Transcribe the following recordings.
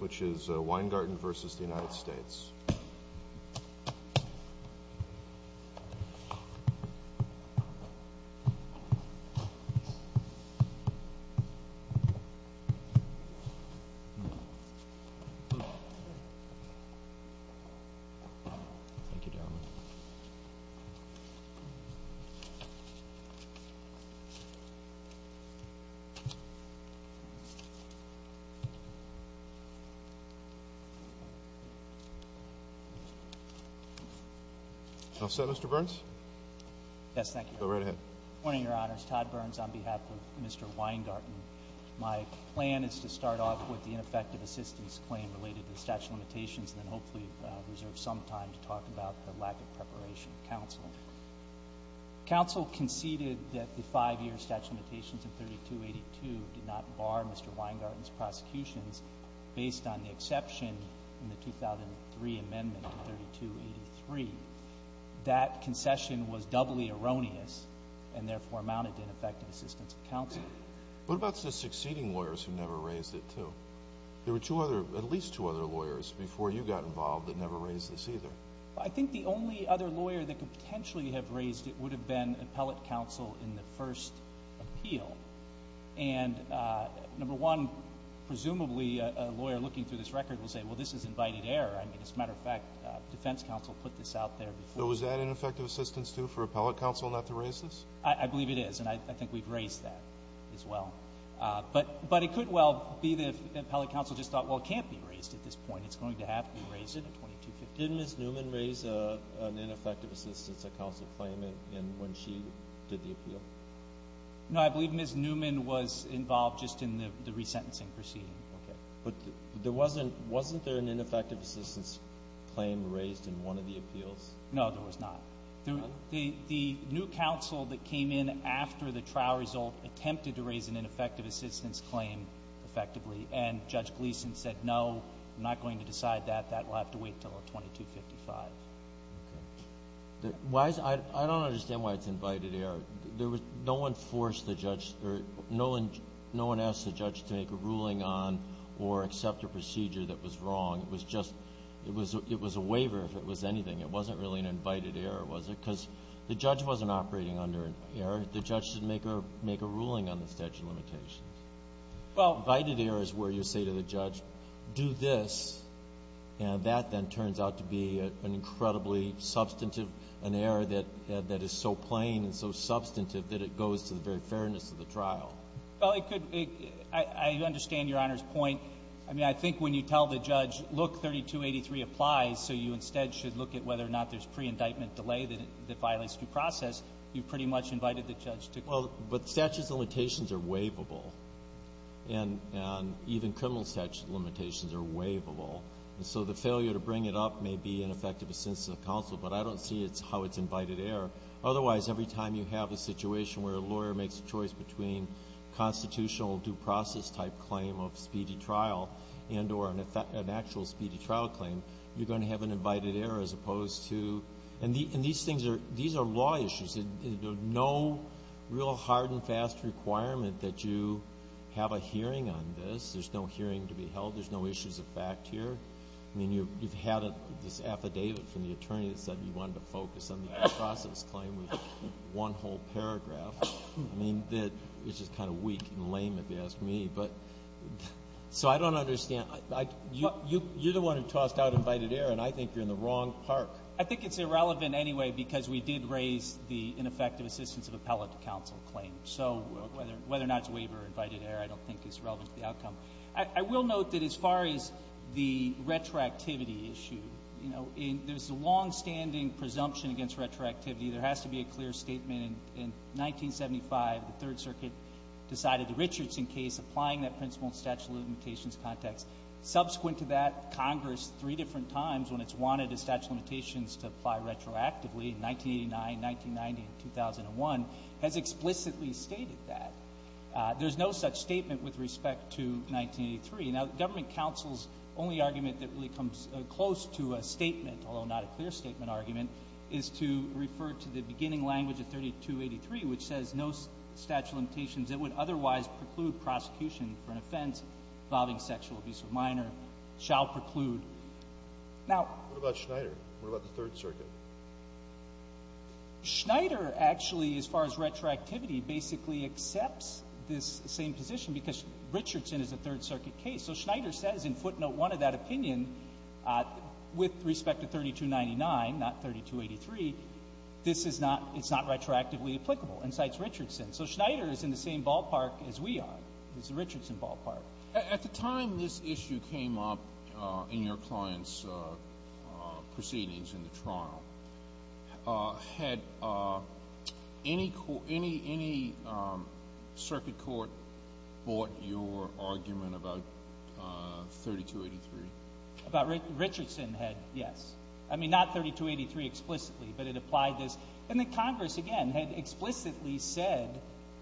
which is Weingarten v. United States. My plan is to start off with the ineffective assistance claim related to the statute of limitations and then hopefully reserve some time to talk about the lack of preparation of counsel. Counsel conceded that the five-year statute of limitations in 3282 did not bar Mr. Weingarten's prosecutions based on the exception in the 2003 amendment to 3283. That concession was doubly erroneous and therefore amounted to ineffective assistance of counsel. What about the succeeding lawyers who never raised it, too? There were at least two other lawyers before you got involved that never raised this either. I think the only other lawyer that could potentially have raised it would have been appellate counsel in the first appeal. And number one, presumably a lawyer looking through this record will say, well, this is invited error. I mean, as a matter of fact, defense counsel put this out there before. So was that ineffective assistance, too, for appellate counsel not to raise this? I believe it is. And I think we've raised that as well. But it could well be that appellate counsel just thought, well, it can't be raised at this point. It's going to have to be raised at 2250. Did Ms. Newman raise an ineffective assistance of counsel claim when she did the appeal? No, I believe Ms. Newman was involved just in the resentencing proceeding. Okay. But wasn't there an ineffective assistance claim raised in one of the appeals? No, there was not. The new counsel that came in after the trial result attempted to raise an ineffective assistance claim effectively. And Judge Gleeson said, no, I'm not going to decide that. That will have to wait until 2255. Okay. I don't understand why it's invited error. No one asked the judge to make a ruling on or accept a procedure that was wrong. It was a waiver, if it was anything. It wasn't really an invited error, was it? Because the judge wasn't operating under an error. The judge didn't make a ruling on the statute of limitations. Well. Invited error is where you say to the judge, do this, and that then turns out to be an incredibly substantive, an error that is so plain and so substantive that it goes to the very fairness of the trial. Well, it could be. I understand Your Honor's point. I mean, I think when you tell the judge, look, 3283 applies, so you instead should look at whether or not there's pre-indictment delay that violates due process, you pretty much invited the judge to. Well, but statute of limitations are waivable. And even criminal statute of limitations are waivable. And so the failure to bring it up may be an effective assent to the counsel, but I don't see how it's invited error. Otherwise, every time you have a situation where a lawyer makes a choice between constitutional due process type claim of speedy trial and or an actual speedy trial claim, you're going to have an invited error as opposed to. And these things are law issues. There's no real hard and fast requirement that you have a hearing on this. There's no hearing to be held. There's no issues of fact here. I mean, you've had this affidavit from the attorney that said you wanted to focus on the due process claim with one whole paragraph. I mean, it's just kind of weak and lame if you ask me. So I don't understand. You're the one who tossed out invited error, and I think you're in the wrong park. I think it's irrelevant anyway because we did raise the ineffective assistance of appellate to counsel claim. So whether or not it's waiver or invited error I don't think is relevant to the outcome. I will note that as far as the retroactivity issue, you know, there's a longstanding presumption against retroactivity. There has to be a clear statement. In 1975, the Third Circuit decided the Richardson case, applying that principle in statute of limitations context. Subsequent to that, Congress three different times, when it's wanted the statute of limitations to apply retroactively, 1989, 1990, and 2001, has explicitly stated that. There's no such statement with respect to 1983. Now, government counsel's only argument that really comes close to a statement, although not a clear statement argument, is to refer to the beginning language of 3283, which says, no statute of limitations that would otherwise preclude prosecution for an offense involving sexual abuse of a minor shall preclude. Now — What about Schneider? What about the Third Circuit? Schneider, actually, as far as retroactivity, basically accepts this same position because Richardson is a Third Circuit case. So Schneider says in footnote 1 of that opinion, with respect to 3299, not 3283, this is not — it's not retroactively applicable and cites Richardson. So Schneider is in the same ballpark as we are, is the Richardson ballpark. At the time this issue came up in your client's proceedings in the trial, had any circuit court bought your argument about 3283? Richardson had, yes. I mean, not 3283 explicitly, but it applied this. And then Congress, again, had explicitly said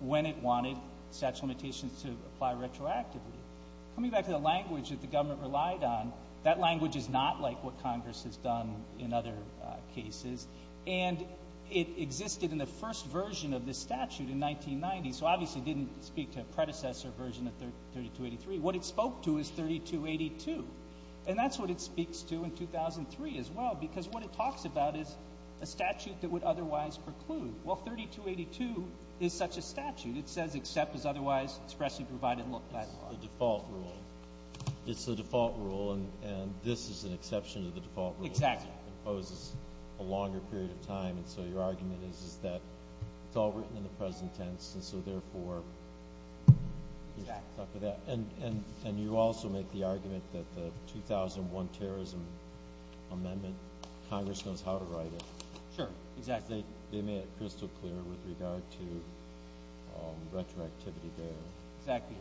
when it wanted statute of limitations to apply retroactively. Coming back to the language that the government relied on, that language is not like what Congress has done in other cases. And it existed in the first version of this statute in 1990, so obviously it didn't speak to a predecessor version of 3283. What it spoke to is 3282. And that's what it speaks to in 2003 as well, because what it talks about is a statute that would otherwise preclude. Well, 3282 is such a statute. It says, except as otherwise expressly provided by the law. It's the default rule. It's the default rule, and this is an exception to the default rule. Exactly. It imposes a longer period of time, and so your argument is that it's all written in the present tense, and so therefore you're stuck with that. And you also make the argument that the 2001 terrorism amendment, Congress knows how to write it. Sure, exactly. Because they made it crystal clear with regard to retroactivity there. Exactly.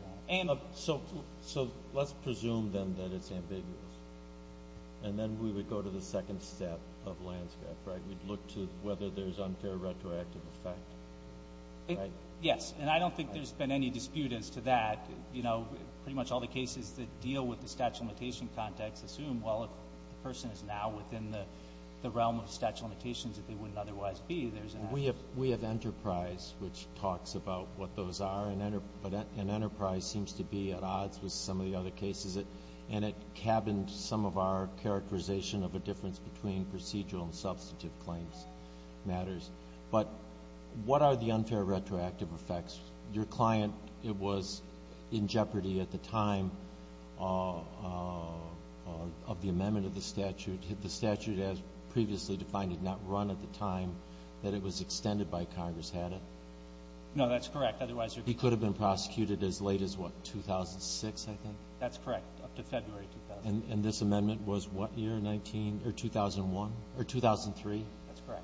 So let's presume then that it's ambiguous, and then we would go to the second step of landscape, right? We'd look to whether there's unfair retroactive effect, right? Yes, and I don't think there's been any dispute as to that. You know, pretty much all the cases that deal with the statute of limitation context assume, well, the person is now within the realm of statute of limitations that they wouldn't otherwise be. We have Enterprise, which talks about what those are, and Enterprise seems to be at odds with some of the other cases, and it cabins some of our characterization of a difference between procedural and substantive claims matters. But what are the unfair retroactive effects? Your client was in jeopardy at the time of the amendment of the statute. The statute, as previously defined, did not run at the time that it was extended by Congress, had it? No, that's correct. He could have been prosecuted as late as, what, 2006, I think? That's correct, up to February 2000. And this amendment was what year, 2001 or 2003? That's correct.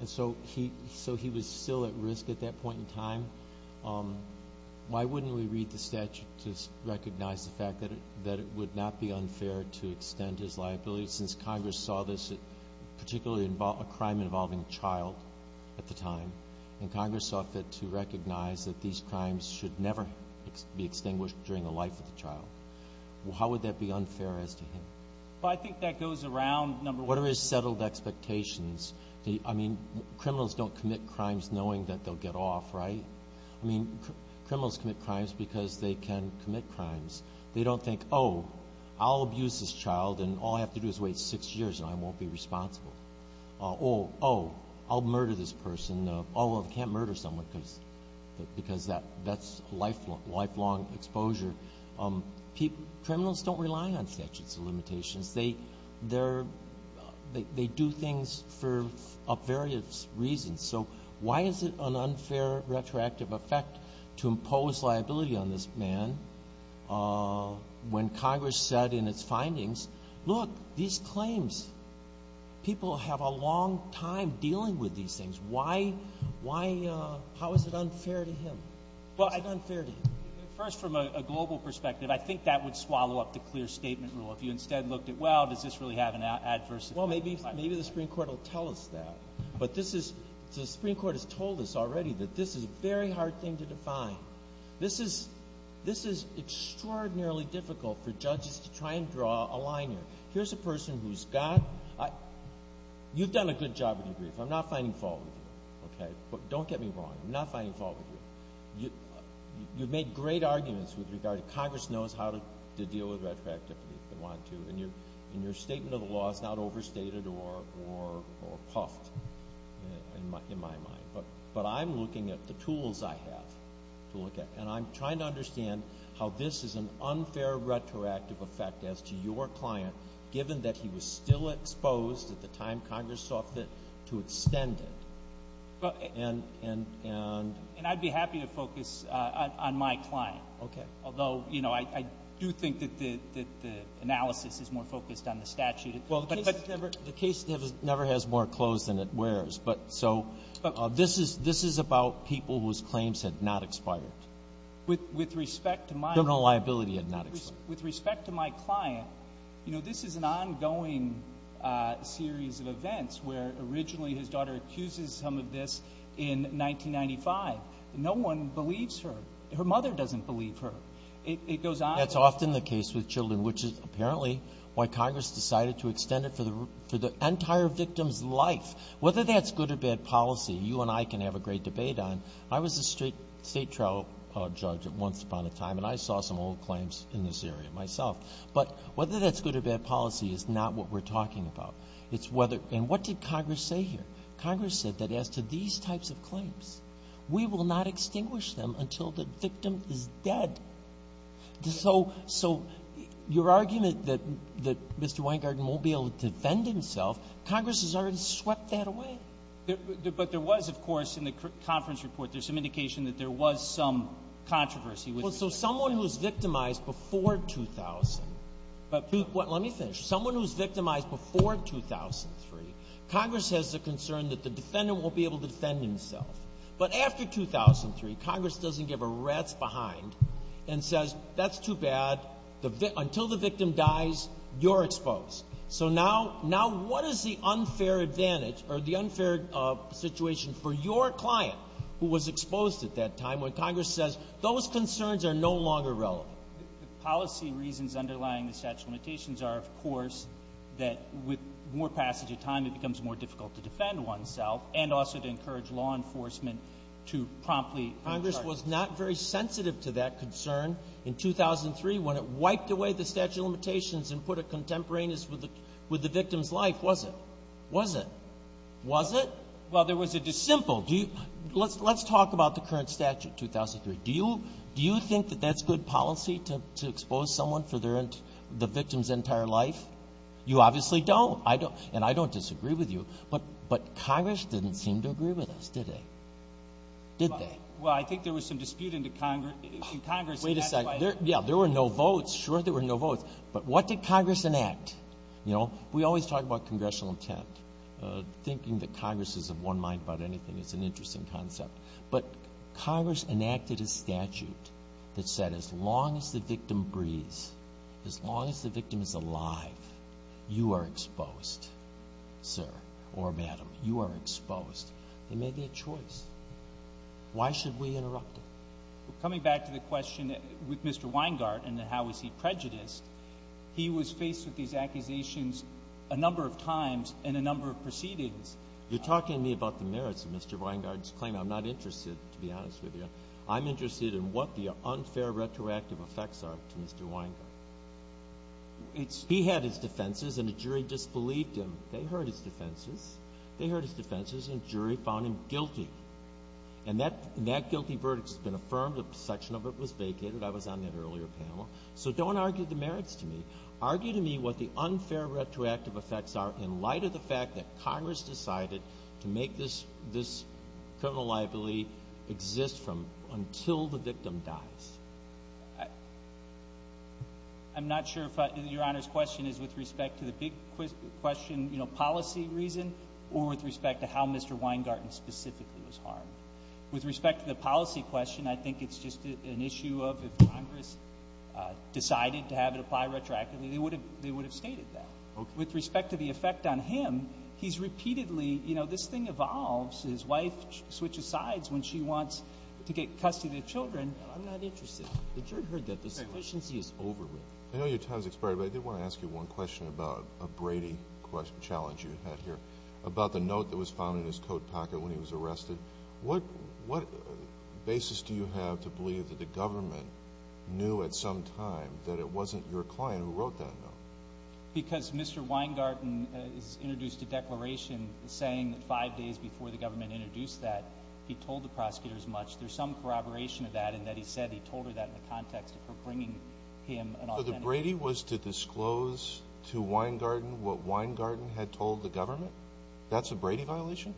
And so he was still at risk at that point in time. Why wouldn't we read the statute to recognize the fact that it would not be unfair to extend his liability, since Congress saw this, particularly a crime involving a child at the time, and Congress saw fit to recognize that these crimes should never be extinguished during the life of the child. How would that be unfair as to him? Well, I think that goes around, number one. What are his settled expectations? I mean, criminals don't commit crimes knowing that they'll get off, right? I mean, criminals commit crimes because they can commit crimes. They don't think, oh, I'll abuse this child and all I have to do is wait six years and I won't be responsible. Or, oh, I'll murder this person. Oh, I can't murder someone because that's lifelong exposure. Criminals don't rely on statutes of limitations. They do things for various reasons. So why is it an unfair retroactive effect to impose liability on this man when Congress said in its findings, look, these claims, people have a long time dealing with these things. How is it unfair to him? First, from a global perspective, I think that would swallow up the clear statement rule. If you instead looked at, well, does this really have an adverse effect? Well, maybe the Supreme Court will tell us that. But the Supreme Court has told us already that this is a very hard thing to define. This is extraordinarily difficult for judges to try and draw a line here. Here's a person who's got – you've done a good job with your brief. I'm not finding fault with you, okay? Don't get me wrong. I'm not finding fault with you. You've made great arguments with regard to Congress knows how to deal with retroactivity if they want to, and your statement of the law is not overstated or puffed, in my mind. But I'm looking at the tools I have to look at, and I'm trying to understand how this is an unfair retroactive effect as to your client, given that he was still exposed at the time Congress sought to extend it. And I'd be happy to focus on my client. Okay. Although, you know, I do think that the analysis is more focused on the statute. Well, the case never has more clothes than it wears. So this is about people whose claims had not expired. With respect to my client. Criminal liability had not expired. With respect to my client, you know, This is an ongoing series of events where originally his daughter accuses him of this in 1995. No one believes her. Her mother doesn't believe her. It goes on. That's often the case with children, which is apparently why Congress decided to extend it for the entire victim's life. Whether that's good or bad policy, you and I can have a great debate on. I was a state trial judge once upon a time, and I saw some old claims in this area myself. But whether that's good or bad policy is not what we're talking about. And what did Congress say here? Congress said that as to these types of claims, we will not extinguish them until the victim is dead. So your argument that Mr. Weingarten won't be able to defend himself, Congress has already swept that away. But there was, of course, in the conference report, there's some indication that there was some controversy with respect to that. So someone who's victimized before 2000, but let me finish. Someone who's victimized before 2003, Congress has the concern that the defendant won't be able to defend himself. But after 2003, Congress doesn't give a rat's behind and says, that's too bad. Until the victim dies, you're exposed. So now what is the unfair advantage or the unfair situation for your client, who was exposed at that time, when Congress says those concerns are no longer relevant? The policy reasons underlying the statute of limitations are, of course, that with more passage of time, it becomes more difficult to defend oneself and also to encourage law enforcement to promptly bring charges. Congress was not very sensitive to that concern in 2003 when it wiped away the statute of limitations and put a contemporaneous with the victim's life, was it? Was it? Was it? Well, there was a dissimple. Let's talk about the current statute, 2003. Do you think that that's good policy to expose someone for the victim's entire life? You obviously don't, and I don't disagree with you. But Congress didn't seem to agree with us, did they? Did they? Well, I think there was some dispute in Congress. Wait a second. Yeah, there were no votes. Sure, there were no votes. But what did Congress enact? We always talk about congressional intent. Thinking that Congress is of one mind about anything is an interesting concept. But Congress enacted a statute that said as long as the victim breathes, as long as the victim is alive, you are exposed, sir or madam. You are exposed. They made that choice. Why should we interrupt it? Well, coming back to the question with Mr. Weingart and how was he prejudiced, he was faced with these accusations a number of times in a number of proceedings. You're talking to me about the merits of Mr. Weingart's claim. I'm not interested, to be honest with you. I'm interested in what the unfair retroactive effects are to Mr. Weingart. He had his defenses, and the jury disbelieved him. They heard his defenses. They heard his defenses, and the jury found him guilty. And that guilty verdict has been affirmed. A section of it was vacated. I was on that earlier panel. So don't argue the merits to me. Argue to me what the unfair retroactive effects are in light of the fact that Congress decided to make this criminal liability exist from until the victim dies. I'm not sure if your Honor's question is with respect to the big question, you know, policy reason or with respect to how Mr. Weingart specifically was harmed. With respect to the policy question, I think it's just an issue of if Congress decided to have it apply retroactively, they would have stated that. With respect to the effect on him, he's repeatedly, you know, this thing evolves. His wife switches sides when she wants to get custody of children. I'm not interested. The jury heard that. The sufficiency is over with. I know your time has expired, but I did want to ask you one question about a Brady challenge you had here about the note that was found in his coat pocket when he was arrested. What basis do you have to believe that the government knew at some time that it wasn't your client who wrote that note? Because Mr. Weingarten is introduced to declaration saying that five days before the government introduced that, he told the prosecutors much. There's some corroboration of that in that he said he told her that in the context of her bringing him an authentic note. If Brady was to disclose to Weingarten what Weingarten had told the government, that's a Brady violation?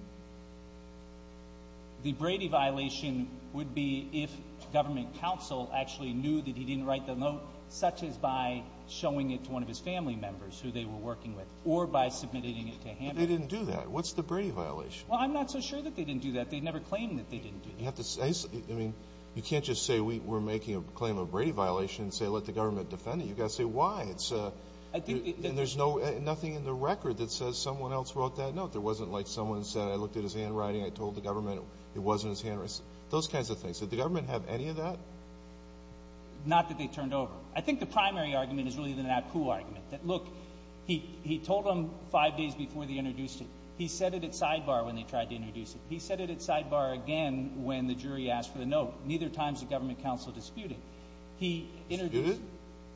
The Brady violation would be if government counsel actually knew that he didn't write the note, such as by showing it to one of his family members who they were working with or by submitting it to him. But they didn't do that. What's the Brady violation? Well, I'm not so sure that they didn't do that. They never claimed that they didn't do that. I mean, you can't just say we're making a claim of Brady violation and say let the government know. You've got to say why. And there's nothing in the record that says someone else wrote that note. There wasn't like someone said, I looked at his handwriting, I told the government it wasn't his handwriting. Those kinds of things. Did the government have any of that? Not that they turned over. I think the primary argument is really the Naipoo argument, that look, he told them five days before they introduced it. He said it at sidebar when they tried to introduce it. He said it at sidebar again when the jury asked for the note. Neither time has the government counsel disputed. Disputed?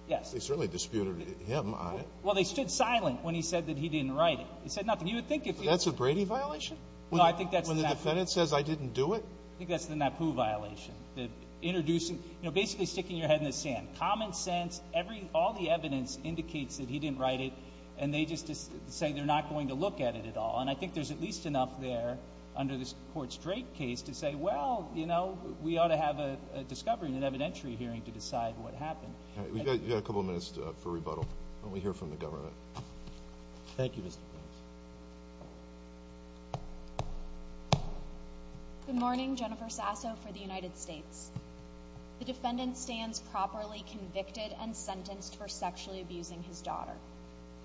Yes. They certainly disputed him on it. Well, they stood silent when he said that he didn't write it. He said nothing. You would think if you were to do that. That's a Brady violation? No, I think that's the Naipoo. When the defendant says I didn't do it? I think that's the Naipoo violation. The introducing, you know, basically sticking your head in the sand. Common sense, every, all the evidence indicates that he didn't write it, and they just say they're not going to look at it at all. And I think there's at least enough there under this Court's Drake case to say, well, you know, we ought to have a discovery and an evidentiary hearing to decide what happened. All right. We've got a couple of minutes for rebuttal. Why don't we hear from the government? Thank you, Mr. Prince. Good morning. Jennifer Sasso for the United States. The defendant stands properly convicted and sentenced for sexually abusing his daughter.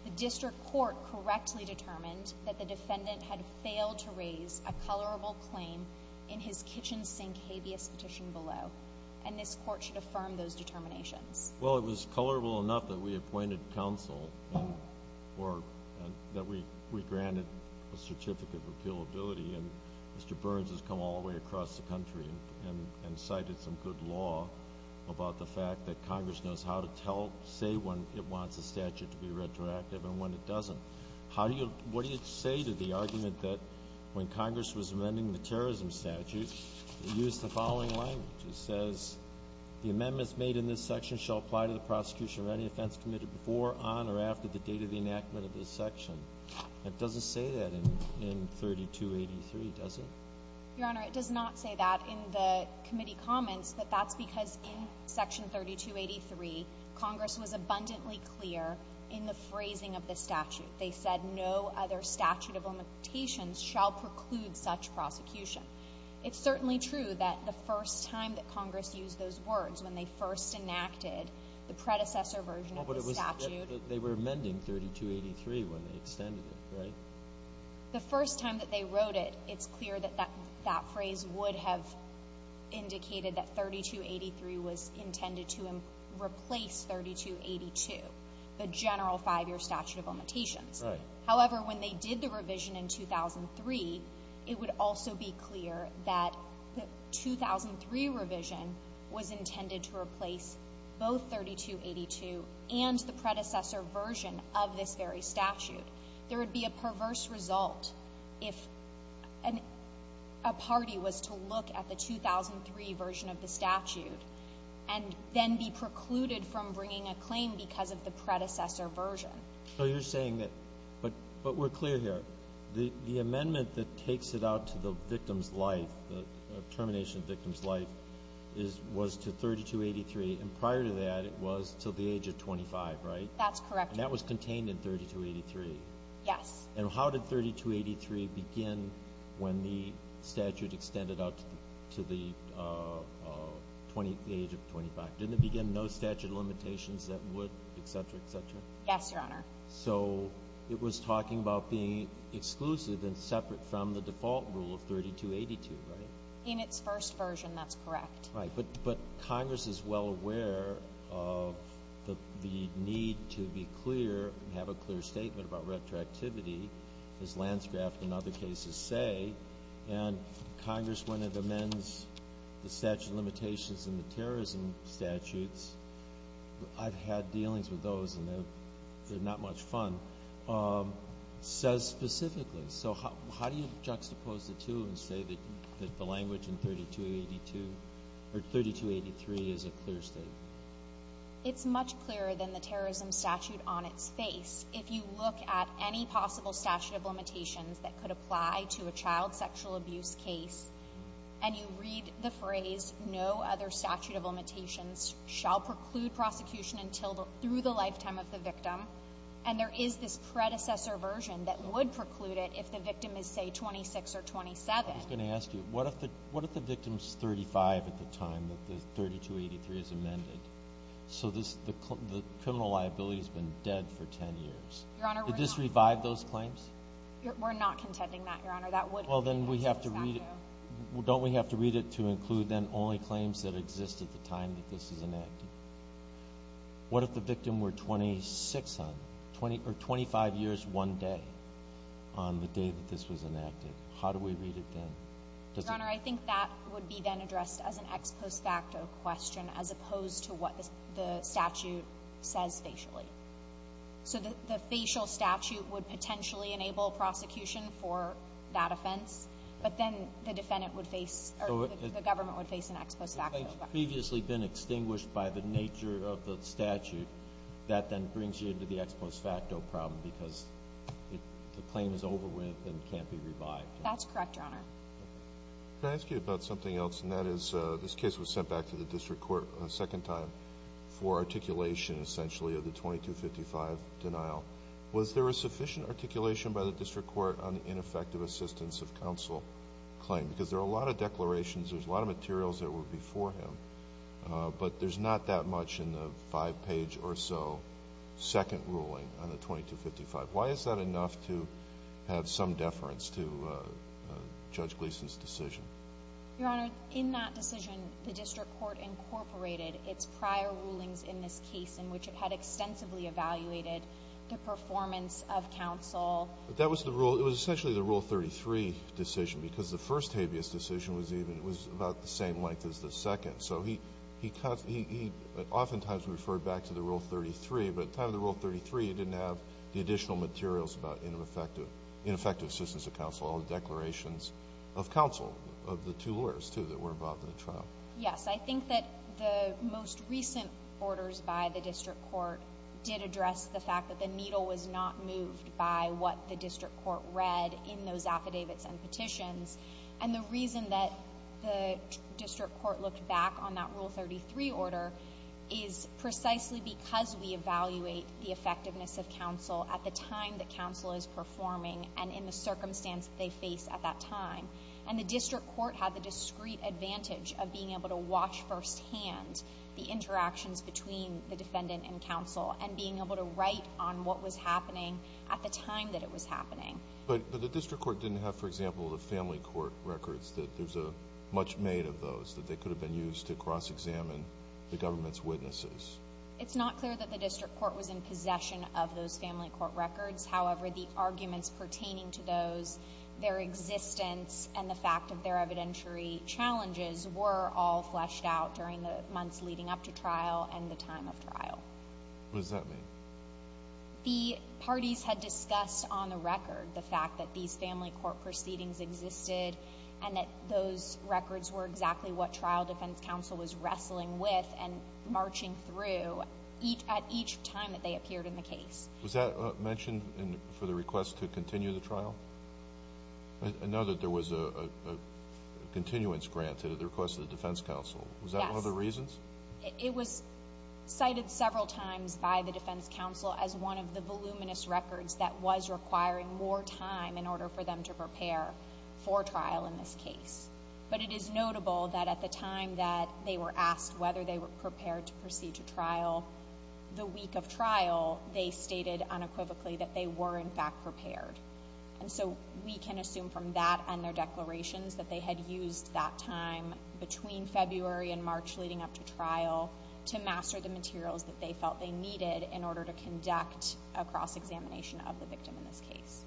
The district court correctly determined that the defendant had failed to raise a colorable claim in his kitchen sink habeas petition below, and this Court should consider that. Well, it was colorable enough that we appointed counsel or that we granted a certificate of appealability, and Mr. Burns has come all the way across the country and cited some good law about the fact that Congress knows how to tell, say when it wants a statute to be retroactive and when it doesn't. How do you, what do you say to the argument that when Congress was amending the terrorism statute, it used the following language? It says, the amendments made in this section shall apply to the prosecution of any offense committed before, on, or after the date of the enactment of this section. It doesn't say that in 3283, does it? Your Honor, it does not say that in the committee comments, but that's because in Section 3283, Congress was abundantly clear in the phrasing of the statute. They said no other statute of limitations shall preclude such prosecution. It's certainly true that the first time that Congress used those words, when they first enacted the predecessor version of the statute. Well, but it was, they were amending 3283 when they extended it, right? The first time that they wrote it, it's clear that that phrase would have indicated that 3283 was intended to replace 3282, the general five-year statute of limitations. Right. However, when they did the revision in 2003, it would also be clear that the 2003 revision was intended to replace both 3282 and the predecessor version of this very statute. There would be a perverse result if a party was to look at the 2003 version of the statute and then be precluded from bringing a claim because of the predecessor version. So you're saying that, but we're clear here. The amendment that takes it out to the victim's life, the termination of victim's life, was to 3283. And prior to that, it was to the age of 25, right? That's correct. And that was contained in 3283. Yes. And how did 3283 begin when the statute extended out to the age of 25? Didn't it begin no statute of limitations that would, et cetera, et cetera? Yes, Your Honor. So it was talking about being exclusive and separate from the default rule of 3282, right? In its first version, that's correct. Right. But Congress is well aware of the need to be clear and have a clear statement about retroactivity, as Lanscraft and other cases say. And Congress, when it amends the statute of limitations and the terrorism statutes, I've had dealings with those and they're not much fun, says specifically. So how do you juxtapose the two and say that the language in 3283 is a clear statement? It's much clearer than the terrorism statute on its face. If you look at any possible statute of limitations that could apply to a child sexual abuse case and you read the phrase, no other statute of limitations shall preclude prosecution through the lifetime of the victim. And there is this predecessor version that would preclude it if the victim is, say, 26 or 27. I was going to ask you, what if the victim is 35 at the time that the 3283 is amended? So the criminal liability has been dead for 10 years. We're not contending that, Your Honor. Well, then we have to read it. Don't we have to read it to include then only claims that exist at the time that this is enacted? What if the victim were 26 or 25 years one day on the day that this was enacted? How do we read it then? Your Honor, I think that would be then addressed as an ex post facto question as opposed to what the statute says facially. So the facial statute would potentially enable prosecution for that offense, but then the defendant would face or the government would face an ex post facto question. If the claim's previously been extinguished by the nature of the statute, that then brings you into the ex post facto problem because the claim is over with and can't be revived. That's correct, Your Honor. Can I ask you about something else? And that is this case was sent back to the district court a second time for articulation essentially of the 2255 denial. Was there a sufficient articulation by the district court on the ineffective assistance of counsel claim? Because there are a lot of declarations. There's a lot of materials that were before him, but there's not that much in the five page or so second ruling on the 2255. Why is that enough to have some deference to Judge Gleeson's decision? Your Honor, in that decision, the district court incorporated its prior rulings in this case in which it had extensively evaluated the performance of counsel. But that was the rule. It was essentially the Rule 33 decision because the first habeas decision was even about the same length as the second. So he often times referred back to the Rule 33, but at the time of the Rule 33 he didn't have the additional materials about ineffective assistance of counsel, as well as declarations of counsel of the two lawyers, too, that were involved in the trial. Yes. I think that the most recent orders by the district court did address the fact that the needle was not moved by what the district court read in those affidavits and petitions. And the reason that the district court looked back on that Rule 33 order is precisely because we evaluate the effectiveness of counsel at the time that they face at that time. And the district court had the discreet advantage of being able to watch firsthand the interactions between the defendant and counsel and being able to write on what was happening at the time that it was happening. But the district court didn't have, for example, the family court records that there's much made of those, that they could have been used to cross-examine the government's witnesses. It's not clear that the district court was in possession of those family court records. However, the arguments pertaining to those, their existence, and the fact of their evidentiary challenges were all fleshed out during the months leading up to trial and the time of trial. What does that mean? The parties had discussed on the record the fact that these family court proceedings existed and that those records were exactly what trial defense counsel was wrestling with and marching through at each time that they appeared in the case. Was that mentioned for the request to continue the trial? I know that there was a continuance granted at the request of the defense counsel. Yes. Was that one of the reasons? It was cited several times by the defense counsel as one of the voluminous records that was requiring more time in order for them to prepare for trial in this case. But it is notable that at the time that they were asked whether they were in fact prepared. And so we can assume from that and their declarations that they had used that time between February and March leading up to trial to master the materials that they felt they needed in order to conduct a cross-examination of the victim in this case.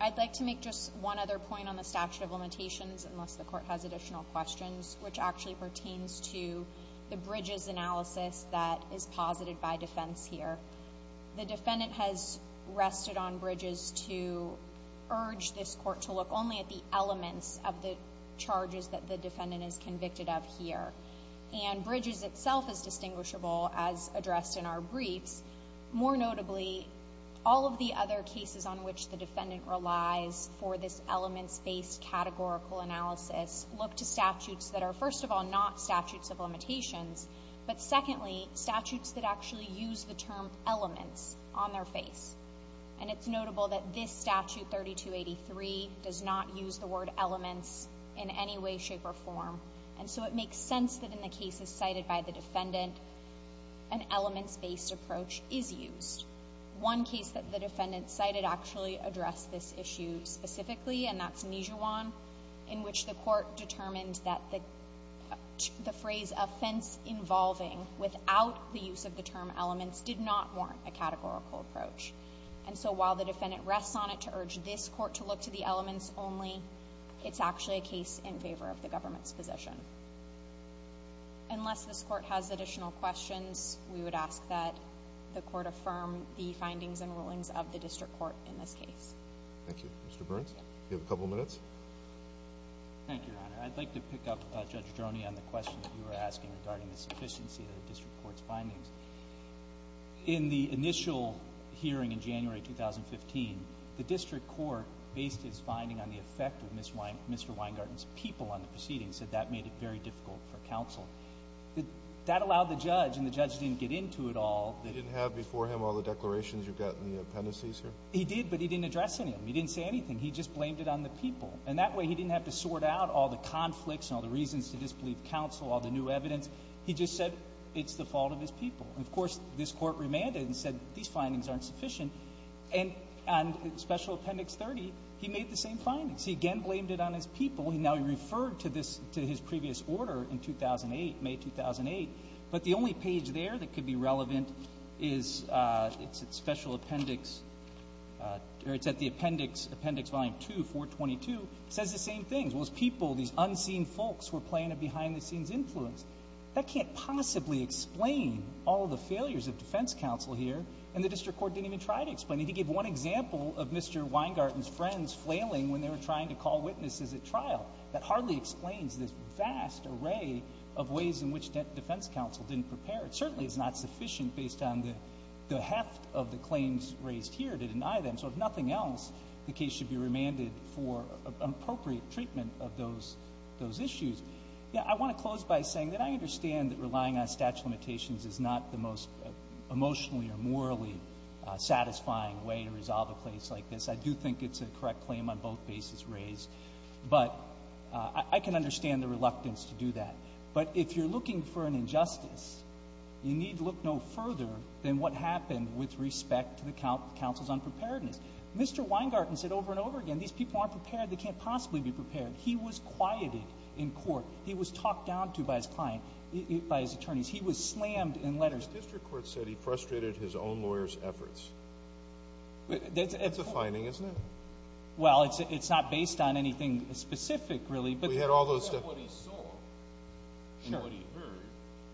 I'd like to make just one other point on the statute of limitations, unless the court has additional questions, which actually pertains to the Bridges analysis that is posited by defense here. The defendant has rested on Bridges to urge this court to look only at the elements of the charges that the defendant is convicted of here. And Bridges itself is distinguishable as addressed in our briefs. More notably, all of the other cases on which the defendant relies for this elements-based categorical analysis look to statutes that are, first of all, not statutes of limitations, but secondly, statutes that actually use the term elements on their face. And it's notable that this statute 3283 does not use the word elements in any way, shape or form. And so it makes sense that in the cases cited by the defendant, an elements-based approach is used. One case that the defendant cited actually addressed this issue specifically, and that's Nijewan, in which the court determined that the phrase offense involving without the use of the term elements did not warrant a categorical approach. And so while the defendant rests on it to urge this court to look to the elements only, it's actually a case in favor of the government's position. Unless this court has additional questions, we would ask that the court affirm the findings and rulings of the district court in this case. Thank you. Mr. Burns, you have a couple minutes. Thank you, Your Honor. I'd like to pick up Judge Droney on the question that you were asking regarding the sufficiency of the district court's findings. In the initial hearing in January 2015, the district court based its finding on the effect of Mr. Weingarten's people on the proceedings, so that made it very difficult for counsel. That allowed the judge, and the judge didn't get into it all. He didn't have before him all the declarations you've got in the appendices here? He did, but he didn't address any of them. He didn't say anything. He just blamed it on the people. And that way he didn't have to sort out all the conflicts and all the reasons to disbelieve counsel, all the new evidence. He just said it's the fault of his people. And, of course, this court remanded and said these findings aren't sufficient. And on Special Appendix 30, he made the same findings. He again blamed it on his people. And now he referred to this, to his previous order in 2008, May 2008. But the only page there that could be relevant is Special Appendix, or it's at the appendix, Appendix Volume 2, 422. It says the same things. Well, it's people, these unseen folks who are playing a behind-the-scenes influence. That can't possibly explain all the failures of defense counsel here, and the district court didn't even try to explain it. He gave one example of Mr. Weingarten's friends flailing when they were trying to call witnesses at trial. That hardly explains this vast array of ways in which defense counsel didn't prepare. It certainly is not sufficient based on the heft of the claims raised here to deny them. So if nothing else, the case should be remanded for appropriate treatment of those issues. I want to close by saying that I understand that relying on statute of limitations is not the most emotionally or morally satisfying way to resolve a case like this. I do think it's a correct claim on both bases raised. But I can understand the reluctance to do that. But if you're looking for an injustice, you need look no further than what happened with respect to the counsel's unpreparedness. Mr. Weingarten said over and over again, these people aren't prepared. They can't possibly be prepared. He was quieted in court. He was talked down to by his client, by his attorneys. He was slammed in letters. The district court said he frustrated his own lawyer's efforts. That's a finding, isn't it? Well, it's not based on anything specific, really. But we had all those stuff. He said what he saw and what he heard.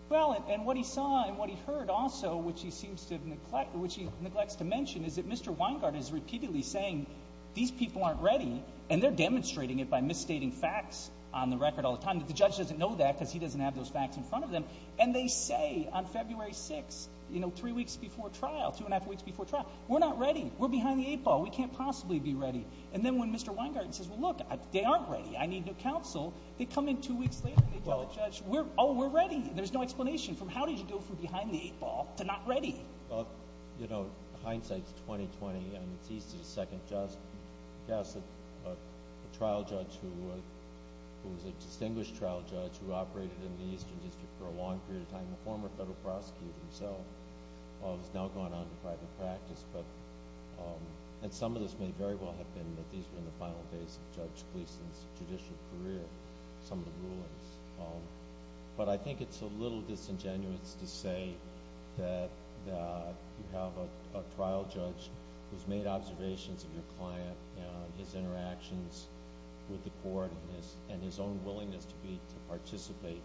Well, and what he saw and what he heard also, which he seems to neglect, which he neglects to mention, is that Mr. Weingarten is repeatedly saying, these people aren't ready. And they're demonstrating it by misstating facts on the record all the time. The judge doesn't know that because he doesn't have those facts in front of them. And they say on February 6th, you know, three weeks before trial, two and a half weeks before trial, we're not ready. We're behind the eight ball. We can't possibly be ready. And then when Mr. Weingarten says, well, look, they aren't ready. I need new counsel. They come in two weeks later and they tell the judge, oh, we're ready. There's no explanation from how did you go from behind the eight ball to not ready? Well, you know, hindsight's 20-20, and it's easy to second-guess a trial judge who was a distinguished trial judge who operated in the Eastern District for a long period of time, the former federal prosecutor himself. He's now gone on to private practice. And some of this may very well have been that these were the final days of Judge Gleeson's judicial career, some of the rulings. But I think it's a little disingenuous to say that you have a trial judge who's made observations of your client and his interactions with the court and his own willingness to participate,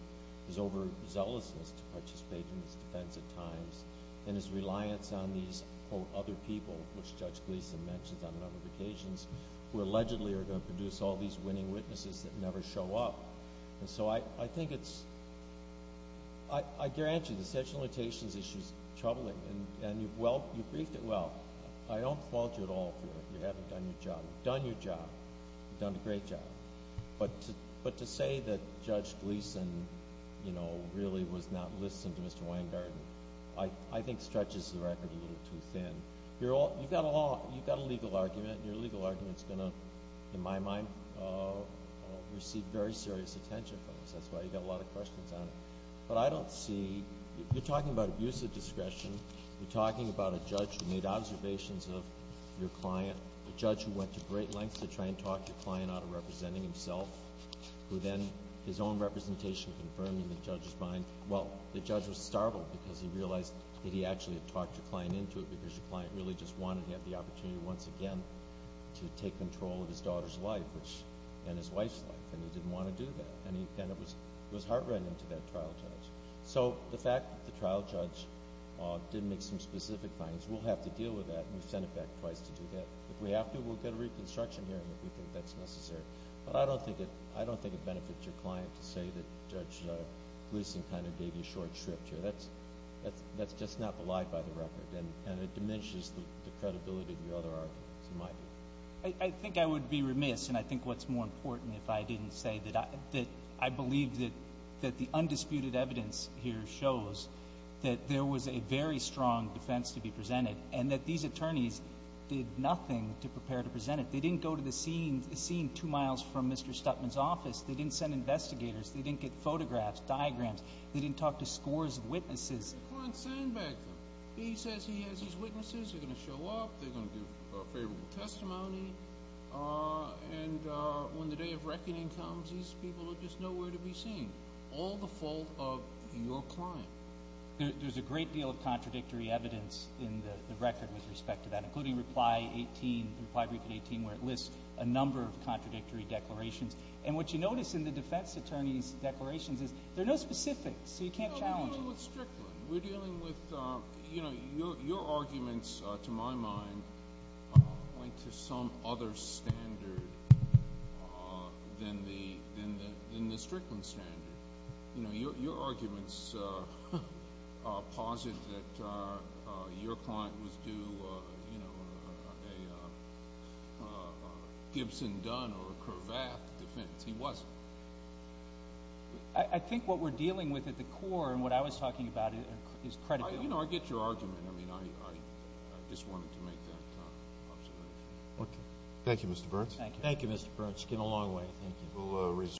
his overzealousness to participate in his defense at times, and his reliance on these, quote, other people, which Judge Gleeson mentions on a number of occasions, who allegedly are going to produce all these winning witnesses that never show up. And so I think it's – I guarantee you the section of limitations issue is troubling. And you've briefed it well. I don't fault you at all for it. You haven't done your job. You've done your job. You've done a great job. But to say that Judge Gleeson, you know, really was not listening to Mr. Weingarten I think stretches the record a little too thin. You've got a law – you've got a legal argument, and your legal argument is going to, in my mind, receive very serious attention from us. That's why you've got a lot of questions on it. But I don't see – you're talking about abuse of discretion. You're talking about a judge who made observations of your client, a judge who went to great lengths to try and talk your client out of representing himself, who then his own representation confirmed in the judge's mind. Well, the judge was startled because he realized that he actually had talked your client into it because your client really just wanted to have the opportunity once again to take control of his daughter's life and his wife's life, and he didn't want to do that. And it was heart-rending to that trial judge. So the fact that the trial judge didn't make some specific findings, we'll have to deal with that. We've sent it back twice to do that. If we have to, we'll get a reconstruction hearing if we think that's necessary. But I don't think it benefits your client to say that Judge Gleeson kind of gave you short shrift here. That's just not belied by the record, and it diminishes the credibility of your other arguments, in my view. I think I would be remiss, and I think what's more important if I didn't say that I believe that the undisputed evidence here shows that there was a very strong defense to be presented and that these attorneys did nothing to prepare to present it. They didn't go to the scene two miles from Mr. Stuttman's office. They didn't send investigators. They didn't get photographs, diagrams. They didn't talk to scores of witnesses. You can't send back them. He says he has his witnesses. They're going to show up. They're going to give a favorable testimony. And when the day of reckoning comes, these people are just nowhere to be seen, all the fault of your client. There's a great deal of contradictory evidence in the record with respect to that, including Reply 18, Reply Brief in 18, where it lists a number of contradictory declarations. And what you notice in the defense attorney's declarations is there are no specifics, so you can't challenge it. No, we're dealing with Strickland. We're dealing with, you know, your arguments, to my mind, went to some other standard than the Strickland standard. You know, your arguments posit that your client was due a Gibson-Dunn or Cravath defense. He wasn't. I think what we're dealing with at the core and what I was talking about is credibility. You know, I get your argument. I mean, I just wanted to make that observation. Okay. Thank you, Mr. Burns. Thank you. Thank you, Mr. Burns. You came a long way. Thank you.